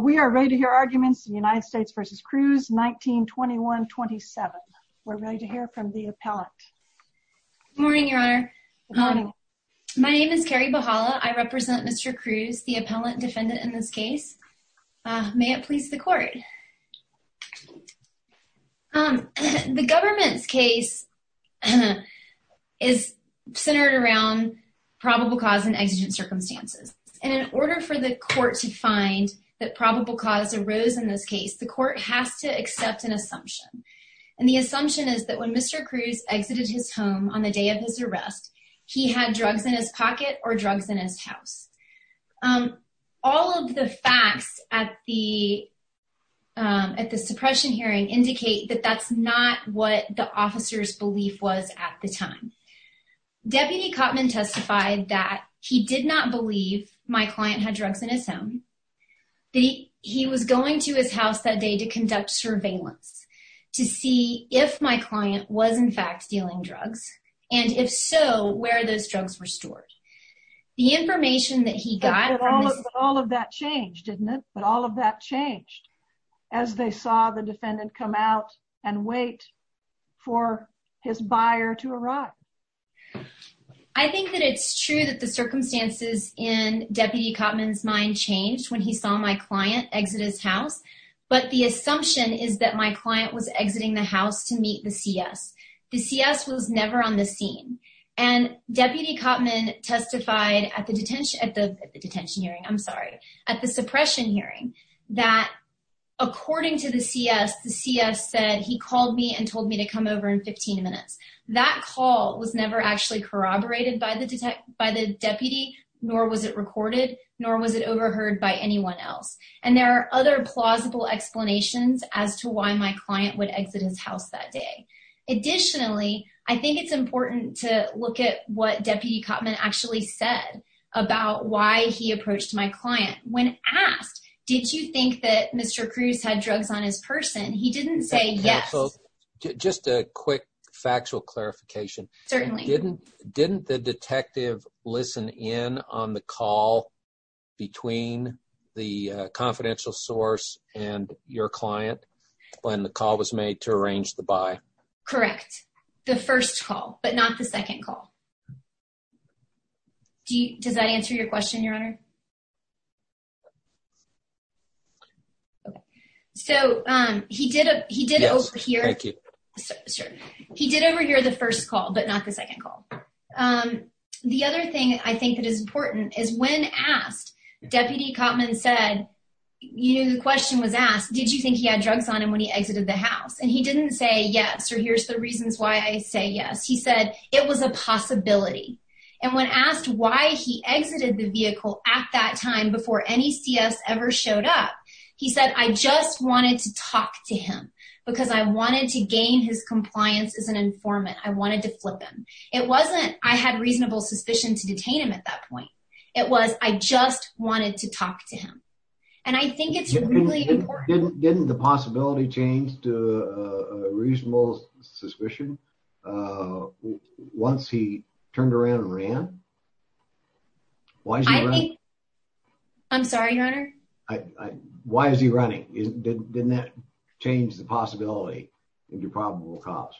We are ready to hear arguments in United States v. Cruz 1921-27. We're ready to hear from the appellant. Good morning, your honor. My name is Carrie Bahala. I represent Mr. Cruz, the appellant defendant in this case. May it please the court. The government's case is centered around probable cause and exigent circumstances. And in order for the court to find that probable cause arose in this case, the court has to accept an assumption. And the assumption is that when Mr. Cruz exited his home on the day of his arrest, he had drugs in his pocket or drugs in his house. All of the facts at the suppression hearing indicate that that's not what the officer's belief was at the time. Deputy Cotman testified that he did not believe my client had drugs in his home. He was going to his house that day to conduct surveillance to see if my client was in fact dealing drugs, and if so, where those drugs were stored. All of that changed, didn't it? But all of that changed as they saw the defendant come out and wait for his buyer to arrive. I think that it's true that the circumstances in Deputy Cotman's mind changed when he saw my client exit his house. But the assumption is that my client was exiting the house to meet the CS. The CS was never on the scene. And Deputy Cotman testified at the detention hearing, I'm sorry, at the suppression hearing, that according to the CS, the CS said he called me and told me to come over in 15 minutes. That call was never actually corroborated by the deputy, nor was it recorded, nor was it overheard by anyone else. And there are other plausible explanations as to why my client would exit his house that day. Additionally, I think it's important to look at what Deputy Cotman actually said about why he approached my client. When asked, did you think that Mr. Cruz had drugs on his person, he didn't say yes. Just a quick factual clarification. Didn't the detective listen in on the call between the confidential source and your client when the call was made to arrange the buy? Correct. The first call, but not the second call. Does that answer your question, Your Honor? So he did overhear the first call, but not the second call. The other thing I think that is important is when asked, Deputy Cotman said, you know, the question was asked, did you think he had drugs on him when he exited the house? And he didn't say yes, or here's the reasons why I say yes. He said it was a possibility. And when asked why he exited the vehicle at that time before any CS ever showed up, he said, I just wanted to talk to him because I wanted to gain his compliance as an informant. I wanted to flip him. It wasn't I had reasonable suspicion to detain him at that point. It was I just wanted to talk to him. And I think it's really important. Didn't the possibility change to a reasonable suspicion once he turned around and ran? I'm sorry, Your Honor. Why is he running? Didn't that change the possibility into probable cause?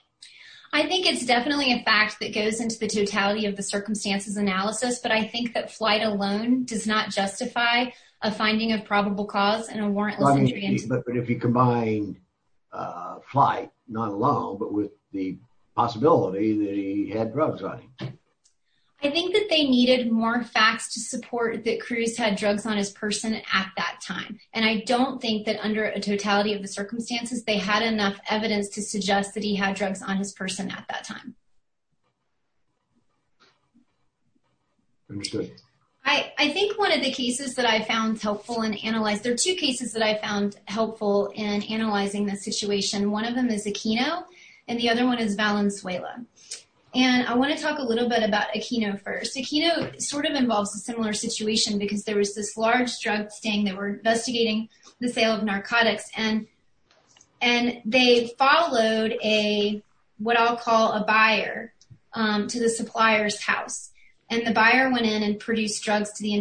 I think it's definitely a fact that goes into the totality of the circumstances analysis. But I think that flight alone does not justify a finding of probable cause and a warrantless injury. But if you combine flight, not alone, but with the possibility that he had drugs on him. I think that they needed more facts to support that Cruz had drugs on his person at that time. And I don't think that under a totality of the circumstances, they had enough evidence to suggest that he had drugs on his person at that time. I think one of the cases that I found helpful and analyzed, there are two cases that I found helpful in analyzing the situation. One of them is Aquino and the other one is Valenzuela. And I want to talk a little bit about Aquino first. Aquino sort of involves a similar situation because there was this large drug sting that were investigating the sale of narcotics. And they followed what I'll call a buyer to the supplier's house. And the buyer went in and produced drugs to the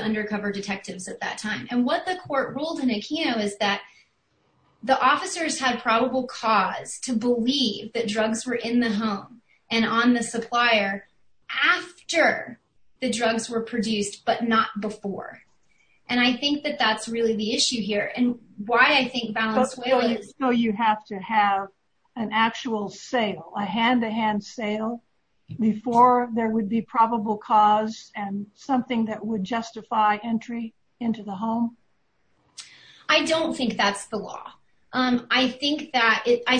undercover detectives at that time. And what the court ruled in Aquino is that the officers had probable cause to believe that drugs were in the home and on the supplier after the drugs were produced, but not before. And I think that that's really the issue here. So you have to have an actual sale, a hand-to-hand sale, before there would be probable cause and something that would justify entry into the home? I don't think that's the law. I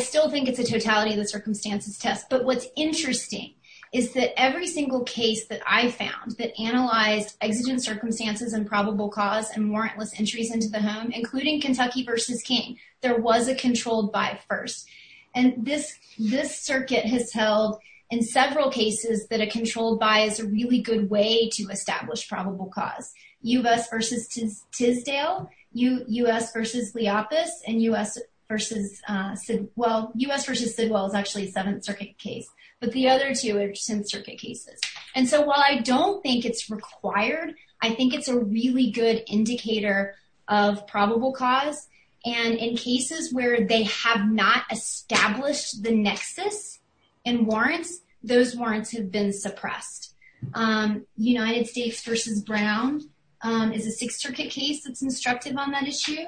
still think it's a totality of the circumstances test. But what's interesting is that every single case that I found that analyzed exigent circumstances and probable cause and warrantless entries into the home, including Kentucky v. King, there was a controlled buy first. And this circuit has held in several cases that a controlled buy is a really good way to establish probable cause. U.S. v. Tisdale, U.S. v. Leopis, and U.S. v. Sidwell. U.S. v. Sidwell is actually a Seventh Circuit case. But the other two are Tenth Circuit cases. And so while I don't think it's required, I think it's a really good indicator of probable cause. And in cases where they have not established the nexus in warrants, those warrants have been suppressed. United States v. Brown is a Sixth Circuit case that's constructive on that issue.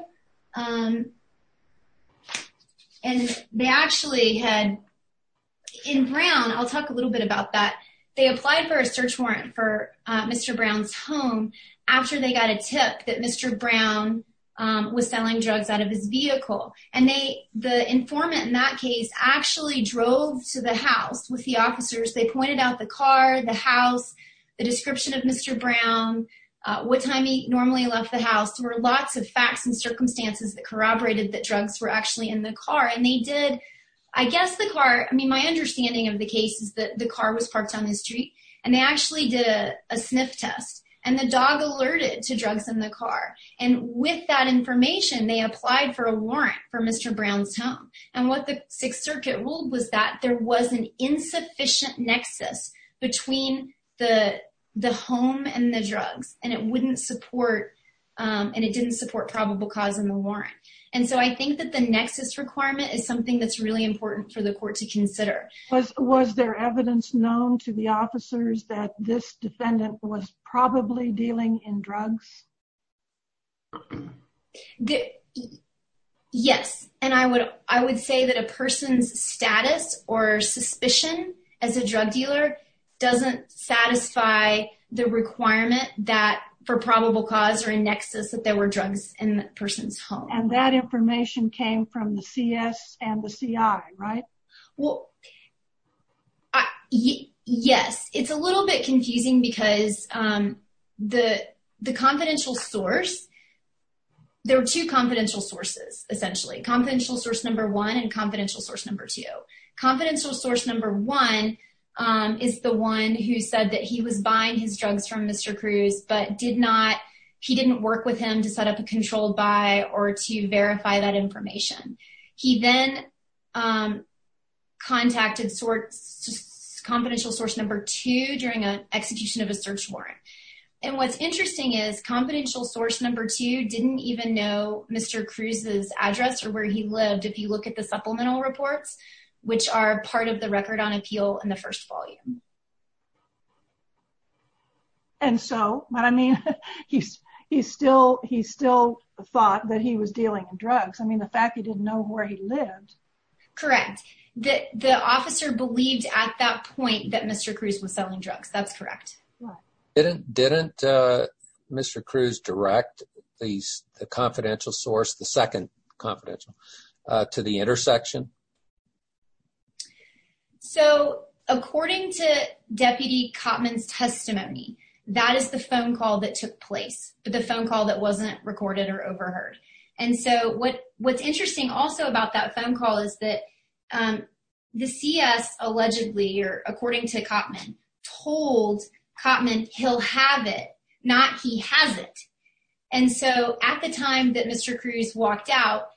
In Brown, I'll talk a little bit about that, they applied for a search warrant for Mr. Brown's home after they got a tip that Mr. Brown was selling drugs out of his vehicle. And the informant in that case actually drove to the house with the officers. They pointed out the car, the house, the description of Mr. Brown, what time he normally left the house. There were lots of facts and circumstances that corroborated that drugs were actually in the car. And they did, I guess the car, I mean, my understanding of the case is that the car was parked on the street. And they actually did a sniff test. And the dog alerted to drugs in the car. And with that information, they applied for a warrant for Mr. Brown's home. And what the Sixth Circuit ruled was that there was an insufficient nexus between the home and the drugs. And it wouldn't support, and it didn't support probable cause in the warrant. And so I think that the nexus requirement is something that's really important for the court to consider. Was there evidence known to the officers that this defendant was probably dealing in drugs? Yes. And I would say that a person's status or suspicion as a drug dealer doesn't satisfy the requirement that for probable cause or a nexus that there were drugs in that person's home. And that information came from the CS and the CI, right? Well, yes. It's a little bit confusing because the confidential source, there are two confidential sources, essentially. Confidential source number one and confidential source number two. Confidential source number one is the one who said that he was buying his drugs from Mr. Cruz, but did not, he didn't work with him to set up a controlled buy or to verify that information. He then contacted confidential source number two during an execution of a search warrant. And what's interesting is confidential source number two didn't even know Mr. Cruz's address or where he lived. If you look at the supplemental reports, which are part of the record on appeal in the first volume. And so what I mean, he still thought that he was dealing in drugs. I mean, the fact that he didn't know where he lived. Correct. The officer believed at that point that Mr. Cruz was selling drugs. That's correct. Didn't Mr. Cruz direct the confidential source, the second confidential, to the intersection? So according to Deputy Cotman's testimony, that is the phone call that took place, but the phone call that wasn't recorded or overheard. And so what's interesting also about that phone call is that the CS allegedly, or according to Cotman, told Cotman he'll have it, not he has it. And so at the time that Mr. Cruz walked out,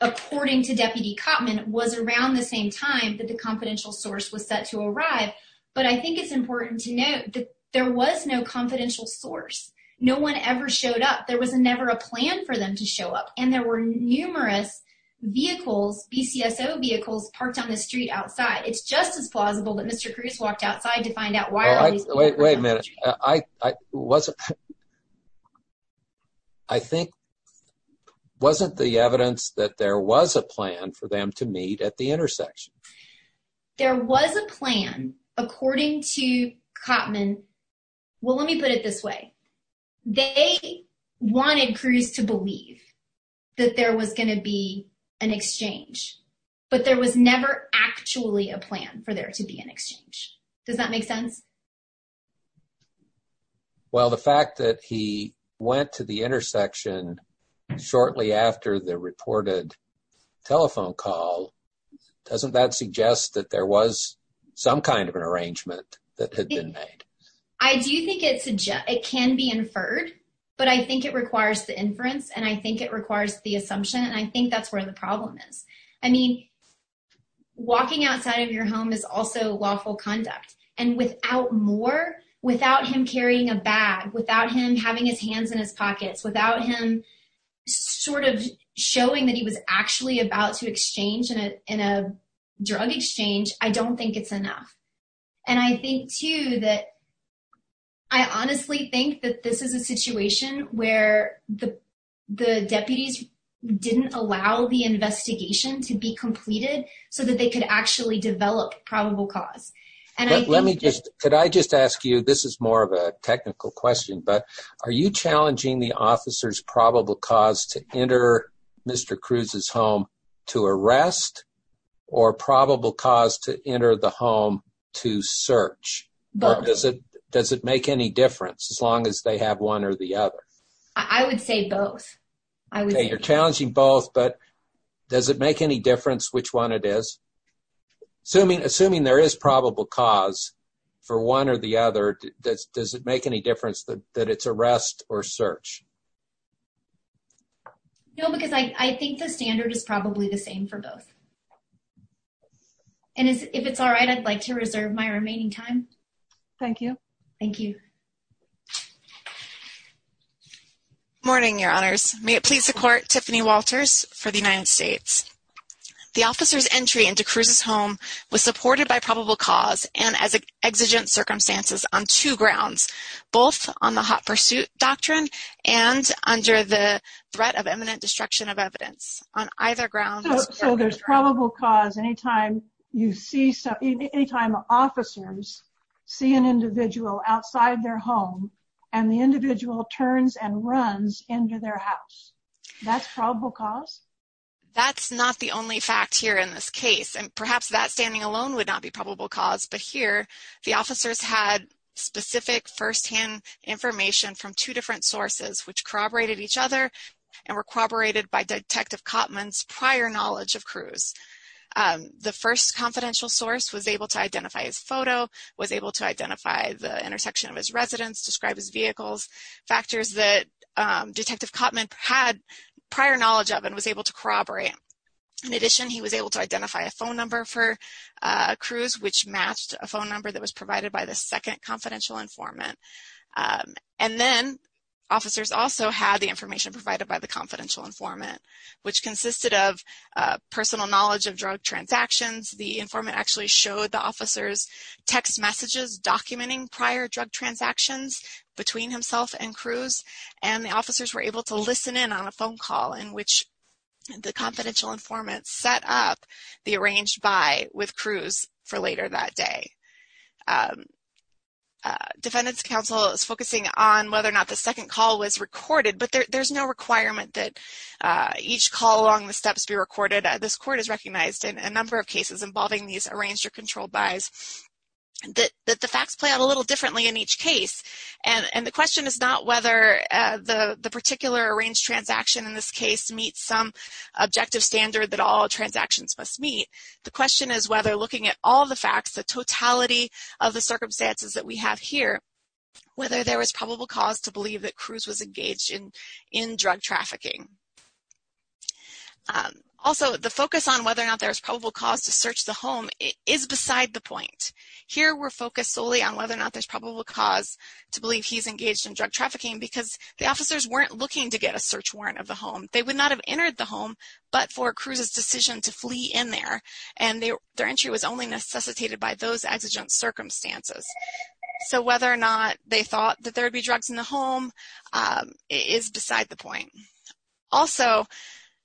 according to Deputy Cotman, was around the same time that the confidential source was set to arrive. But I think it's important to note that there was no confidential source. No one ever showed up. There was never a plan for them to show up. And there were numerous vehicles, BCSO vehicles, parked on the street outside. It's just as plausible that Mr. Cruz walked outside to find out why all these vehicles were on the street. Wait a minute. I think wasn't the evidence that there was a plan for them to meet at the intersection? There was a plan, according to Cotman. Well, let me put it this way. They wanted Cruz to believe that there was going to be an exchange, but there was never actually a plan for there to be an exchange. Does that make sense? Well, the fact that he went to the intersection shortly after the reported telephone call, doesn't that suggest that there was some kind of an arrangement that had been made? I do think it can be inferred, but I think it requires the inference, and I think it requires the assumption, and I think that's where the problem is. I mean, walking outside of your home is also lawful conduct, and without more, without him carrying a bag, without him having his hands in his pockets, without him sort of showing that he was actually about to exchange in a drug exchange, I don't think it's enough. And I think, too, that I honestly think that this is a situation where the deputies didn't allow the investigation to be completed so that they could actually develop probable cause. Could I just ask you, this is more of a technical question, but are you challenging the officer's probable cause to enter Mr. Cruz's home to arrest, or probable cause to enter the home to search? Both. Does it make any difference, as long as they have one or the other? I would say both. Okay, you're challenging both, but does it make any difference which one it is? Assuming there is probable cause for one or the other, does it make any difference that it's arrest or search? No, because I think the standard is probably the same for both. And if it's all right, I'd like to reserve my remaining time. Thank you. Thank you. Good morning, Your Honors. May it please the Court, Tiffany Walters for the United States. The officer's entry into Cruz's home was supported by probable cause and as exigent circumstances on two grounds, both on the hot pursuit doctrine and under the threat of imminent destruction of evidence. So there's probable cause any time officers see an individual outside their home and the individual turns and runs into their house. That's probable cause? That's not the only fact here in this case, and perhaps that standing alone would not be probable cause. But here, the officers had specific firsthand information from two different sources, which corroborated each other and were corroborated by Detective Cotman's prior knowledge of Cruz. The first confidential source was able to identify his photo, was able to identify the intersection of his residence, describe his vehicles, factors that Detective Cotman had prior knowledge of and was able to corroborate. In addition, he was able to identify a phone number for Cruz, which matched a phone number that was provided by the second confidential informant. And then, officers also had the information provided by the confidential informant, which consisted of personal knowledge of drug transactions. The informant actually showed the officers text messages documenting prior drug transactions between himself and Cruz, and the officers were able to listen in on a phone call in which the confidential informant set up the arranged buy with Cruz for later that day. Defendant's counsel is focusing on whether or not the second call was recorded, but there's no requirement that each call along the steps be recorded. This court has recognized in a number of cases involving these arranged or controlled buys that the facts play out a little differently in each case. And the question is not whether the particular arranged transaction in this case meets some objective standard that all transactions must meet. The question is whether, looking at all the facts, the totality of the circumstances that we have here, whether there was probable cause to believe that Cruz was engaged in drug trafficking. Also, the focus on whether or not there was probable cause to search the home is beside the point. Here, we're focused solely on whether or not there's probable cause to believe he's engaged in drug trafficking because the officers weren't looking to get a search warrant of the home. They would not have entered the home but for Cruz's decision to flee in there, and their entry was only necessitated by those exigent circumstances. So whether or not they thought that there would be drugs in the home is beside the point. Also,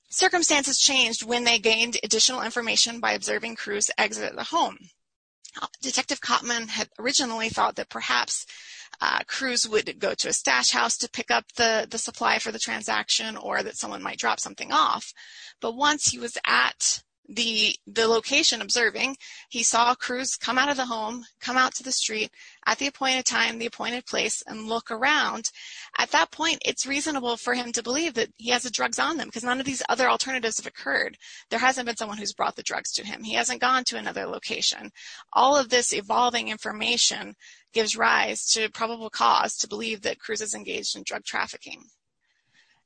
circumstances changed when they gained additional information by observing Cruz exit the home. Detective Kottman had originally thought that perhaps Cruz would go to a stash house to pick up the supply for the transaction or that someone might drop something off. But once he was at the location observing, he saw Cruz come out of the home, come out to the street, at the appointed time, the appointed place, and look around. At that point, it's reasonable for him to believe that he has the drugs on them because none of these other alternatives have occurred. There hasn't been someone who's brought the drugs to him. He hasn't gone to another location. All of this evolving information gives rise to probable cause to believe that Cruz is engaged in drug trafficking.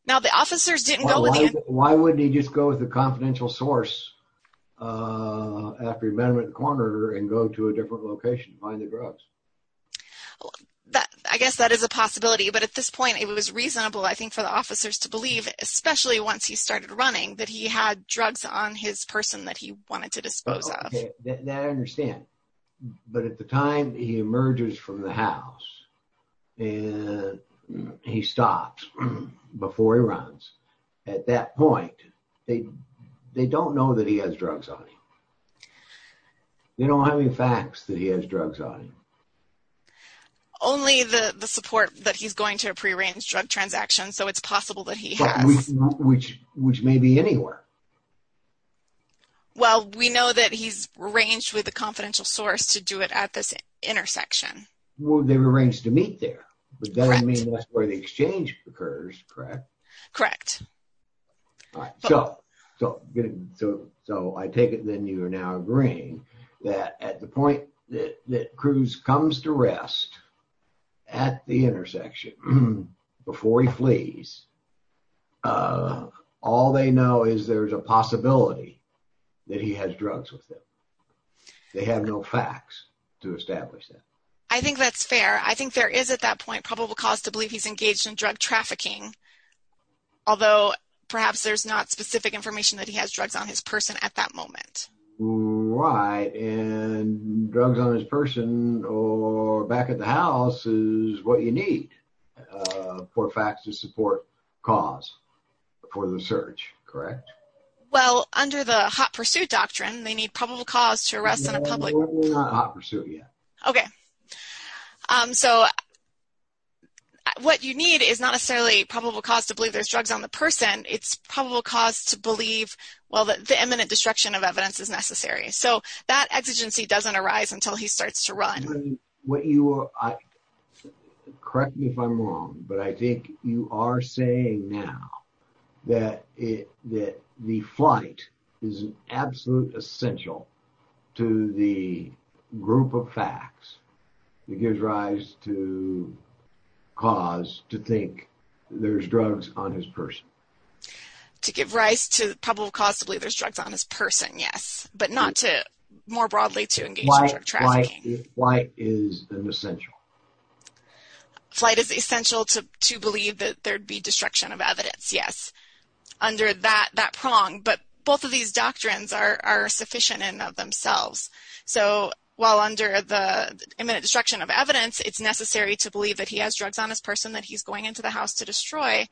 Now, the officers didn't go with him. Why wouldn't he just go with a confidential source after he met with the coroner and go to a different location to find the drugs? I guess that is a possibility. But at this point, it was reasonable, I think, for the officers to believe, especially once he started running, that he had drugs on his person that he wanted to dispose of. Now, I understand. But at the time he emerges from the house and he stops before he runs, at that point, they don't know that he has drugs on him. They don't have any facts that he has drugs on him. Only the support that he's going to a prearranged drug transaction, so it's possible that he has. Which may be anywhere. Well, we know that he's arranged with a confidential source to do it at this intersection. Well, they were arranged to meet there. Correct. But that doesn't mean that's where the exchange occurs, correct? Correct. So I take it then you are now agreeing that at the point that Cruz comes to rest at the intersection before he flees, all they know is there's a possibility that he has drugs with him. They have no facts to establish that. I think that's fair. I think there is at that point probable cause to believe he's engaged in drug trafficking. Although perhaps there's not specific information that he has drugs on his person at that moment. Right. And drugs on his person or back at the house is what you need for facts to support cause for the search, correct? Well, under the hot pursuit doctrine, they need probable cause to arrest in a public. We're not hot pursuit yet. Okay. So what you need is not necessarily probable cause to believe there's drugs on the person. It's probable cause to believe, well, that the imminent destruction of evidence is necessary. So that exigency doesn't arise until he starts to run. Correct me if I'm wrong, but I think you are saying now that the flight is an absolute essential to the group of facts that gives rise to cause to think there's drugs on his person. To give rise to probable cause to believe there's drugs on his person, yes. But not to more broadly to engage in drug trafficking. Flight is an essential. Flight is essential to believe that there'd be destruction of evidence, yes, under that prong. But both of these doctrines are sufficient in and of themselves. So while under the imminent destruction of evidence, it's necessary to believe that he has drugs on his person that he's going into the house to destroy.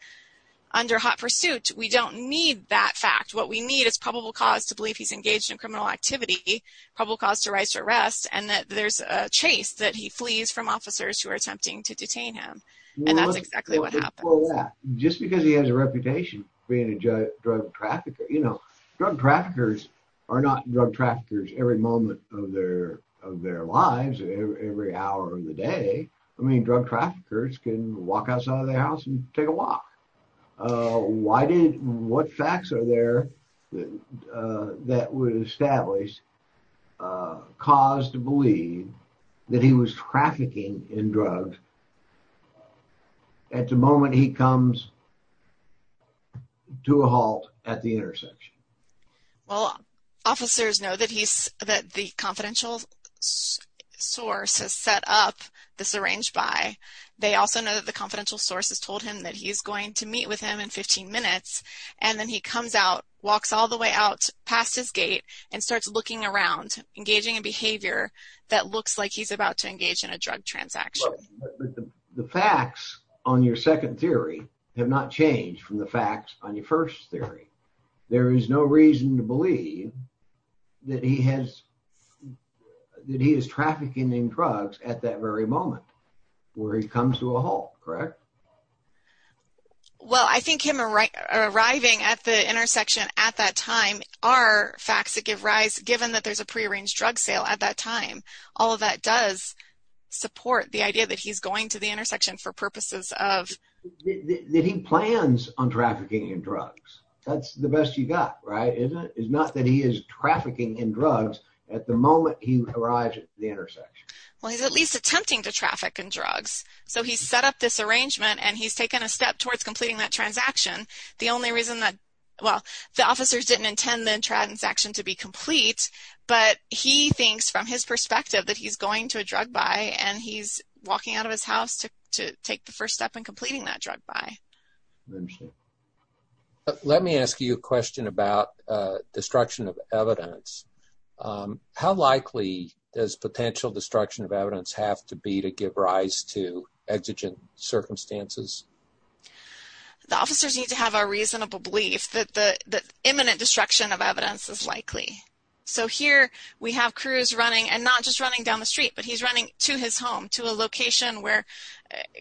Under hot pursuit, we don't need that fact. What we need is probable cause to believe he's engaged in criminal activity, probable cause to rise to arrest, and that there's a chase that he flees from officers who are attempting to detain him. And that's exactly what happens. Just because he has a reputation being a drug trafficker, you know, drug traffickers are not drug traffickers every moment of their lives, every hour of the day. I mean, drug traffickers can walk outside of their house and take a walk. What facts are there that would establish cause to believe that he was trafficking in drugs at the moment he comes to a halt at the intersection? Well, officers know that the confidential source has set up the syringe buy. They also know that the confidential source has told him that he's going to meet with him in 15 minutes. And then he comes out, walks all the way out past his gate, and starts looking around, engaging in behavior that looks like he's about to engage in a drug transaction. But the facts on your second theory have not changed from the facts on your first theory. There is no reason to believe that he is trafficking in drugs at that very moment where he comes to a halt, correct? Well, I think him arriving at the intersection at that time are facts that give rise, given that there's a prearranged drug sale at that time. All of that does support the idea that he's going to the intersection for purposes of... That he plans on trafficking in drugs. That's the best you've got, right? It's not that he is trafficking in drugs at the moment he arrives at the intersection. Well, he's at least attempting to traffic in drugs. So he's set up this arrangement, and he's taken a step towards completing that transaction. The only reason that... Well, the officers didn't intend the transaction to be complete, but he thinks from his perspective that he's going to a drug buy, and he's walking out of his house to take the first step in completing that drug buy. Let me ask you a question about destruction of evidence. How likely does potential destruction of evidence have to be to give rise to exigent circumstances? The officers need to have a reasonable belief that imminent destruction of evidence is likely. So here we have Cruz running, and not just running down the street, but he's running to his home, to a location where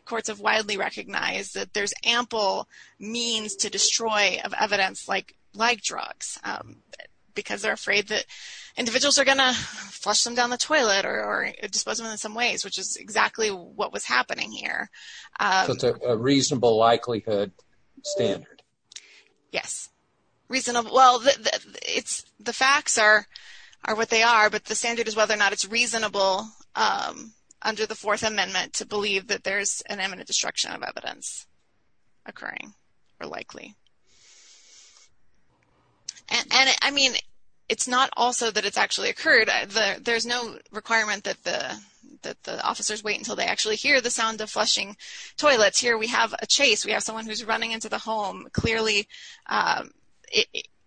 courts have widely recognized that there's ample means to destroy of evidence like drugs, because they're afraid that individuals are going to flush them down the toilet or dispose them in some ways, which is exactly what was happening here. So it's a reasonable likelihood standard. Yes. Well, the facts are what they are, but the standard is whether or not it's reasonable under the Fourth Amendment to believe that there's an imminent destruction of evidence occurring or likely. And, I mean, it's not also that it's actually occurred. There's no requirement that the officers wait until they actually hear the sound of flushing toilets. Here we have a chase. We have someone who's running into the home. Clearly,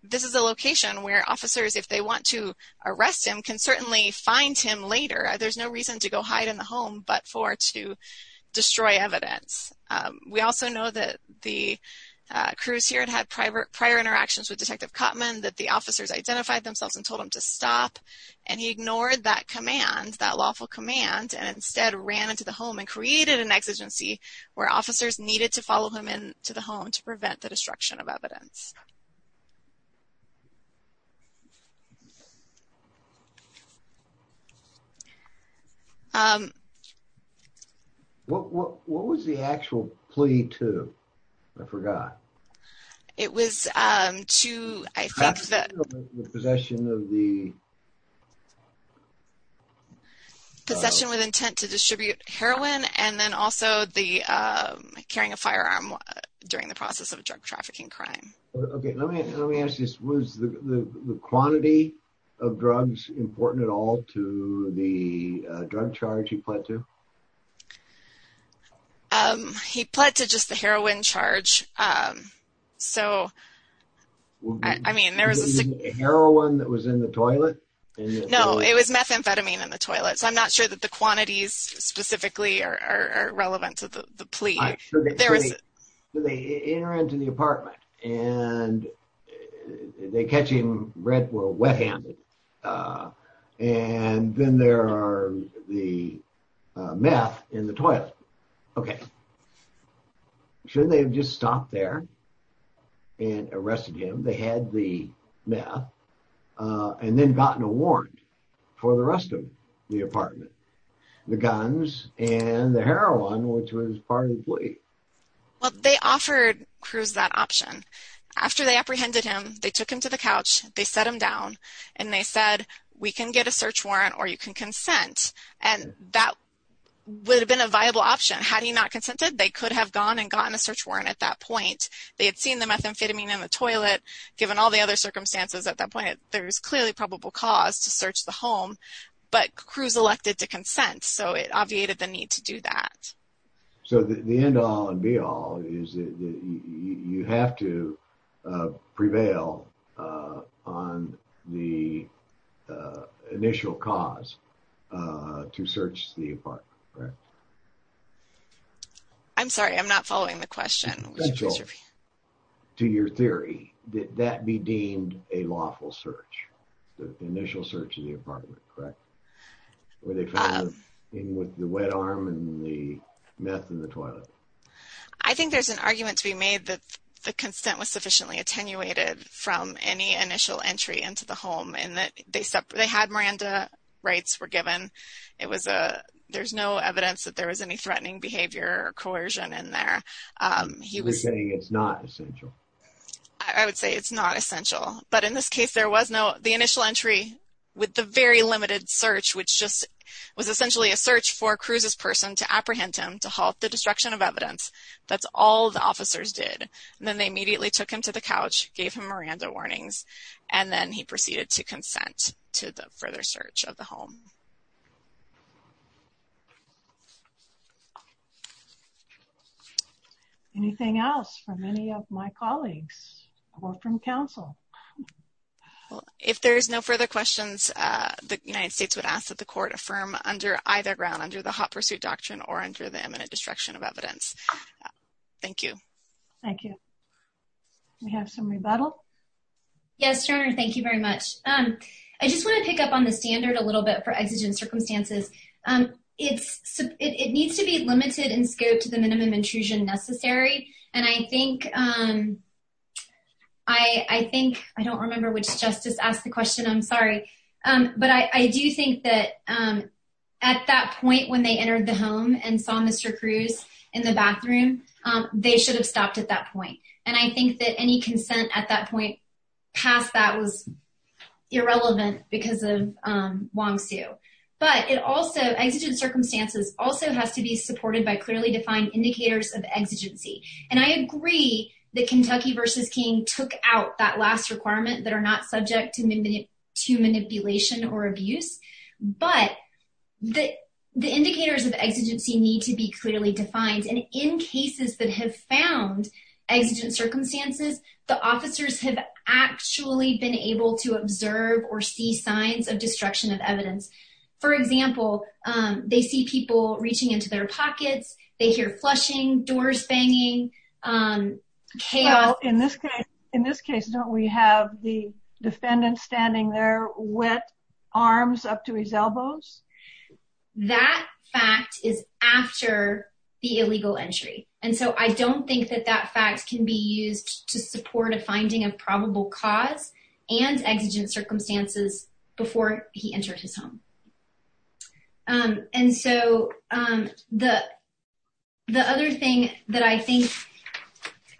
this is a location where officers, if they want to arrest him, can certainly find him later. There's no reason to go hide in the home but for to destroy evidence. We also know that Cruz here had prior interactions with Detective Cotman, that the officers identified themselves and told him to stop, and he ignored that command, that lawful command, and instead ran into the home and created an exigency where officers needed to follow him into the home to prevent the destruction of evidence. What was the actual plea to? I forgot. It was to, I think that... Possession of the... Possession with intent to distribute heroin and then also the carrying a firearm during the process of a drug trafficking crime. Okay, let me ask this. Was the quantity of drugs important at all to the drug charge he pled to? He pled to just the heroin charge. So, I mean, there was... The heroin that was in the toilet? No, it was methamphetamine in the toilet. So, I'm not sure that the quantities specifically are relevant to the plea. I'm sure that... There was... They enter into the apartment and they catch him red or wet-handed. And then there are the meth in the toilet. Okay. Shouldn't they have just stopped there and arrested him? They had the meth and then gotten a warrant for the rest of the apartment. The guns and the heroin, which was part of the plea. Well, they offered Cruz that option. After they apprehended him, they took him to the couch. They set him down. And they said, we can get a search warrant or you can consent. And that would have been a viable option. Had he not consented, they could have gone and gotten a search warrant at that point. They had seen the methamphetamine in the toilet. Given all the other circumstances at that point, there is clearly probable cause to search the home. But Cruz elected to consent. So, it obviated the need to do that. So, the end all and be all is that you have to prevail on the initial cause to search the apartment. I'm sorry, I'm not following the question. To your theory, did that be deemed a lawful search? The initial search of the apartment, correct? With the wet arm and the meth in the toilet. I think there's an argument to be made that the consent was sufficiently attenuated from any initial entry into the home. They had Miranda rights were given. There's no evidence that there was any threatening behavior or coercion in there. You're saying it's not essential. I would say it's not essential. But in this case, there was no, the initial entry with the very limited search, which just was essentially a search for Cruz's person to apprehend him to halt the destruction of evidence. That's all the officers did. Then they immediately took him to the couch, gave him Miranda warnings, and then he proceeded to consent to the further search of the home. Anything else from any of my colleagues or from counsel? If there is no further questions, the United States would ask that the court affirm under either ground, under the hot pursuit doctrine or under the imminent destruction of evidence. Thank you. Thank you. We have some rebuttal. Yes, sir. Thank you very much. I just want to pick up on the standard a little bit for exigent circumstances. It needs to be limited in scope to the minimum intrusion necessary. And I think, I don't remember which justice asked the question. I'm sorry. But I do think that at that point when they entered the home and saw Mr. Cruz in the bathroom, they should have stopped at that point. And I think that any consent at that point past that was irrelevant because of Wong Sue. But it also, exigent circumstances also has to be supported by clearly defined indicators of exigency. And I agree that Kentucky v. King took out that last requirement that are not subject to manipulation or abuse. But the indicators of exigency need to be clearly defined. And in cases that have found exigent circumstances, the officers have actually been able to observe or see signs of destruction of evidence. For example, they see people reaching into their pockets. They hear flushing, doors banging, chaos. Well, in this case, don't we have the defendant standing there with arms up to his elbows? That fact is after the illegal entry. And so I don't think that that fact can be used to support a finding of probable cause and exigent circumstances before he entered his home. And so the other thing that I think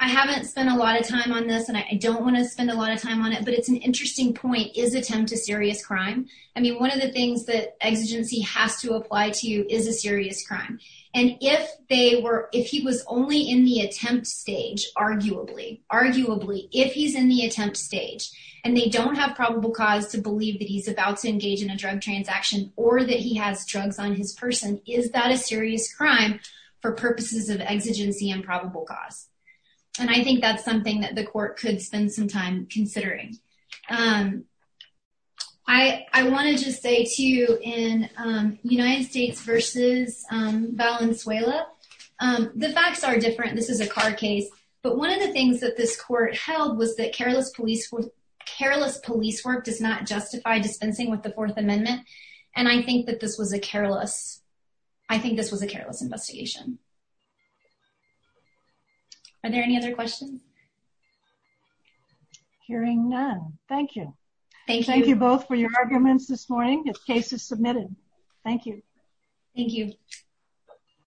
I haven't spent a lot of time on this, and I don't want to spend a lot of time on it, but it's an interesting point, is attempt a serious crime. I mean, one of the things that exigency has to apply to is a serious crime. And if he was only in the attempt stage, arguably, arguably, if he's in the attempt stage, and they don't have probable cause to believe that he's about to engage in a drug transaction or that he has drugs on his person, is that a serious crime for purposes of exigency and probable cause? And I think that's something that the court could spend some time considering. I want to just say, too, in United States v. Valenzuela, the facts are different. This is a car case. But one of the things that this court held was that careless police work does not justify dispensing with the Fourth Amendment. And I think that this was a careless investigation. Are there any other questions? Hearing none, thank you. Thank you. Thank you both for your arguments this morning. The case is submitted. Thank you. Thank you.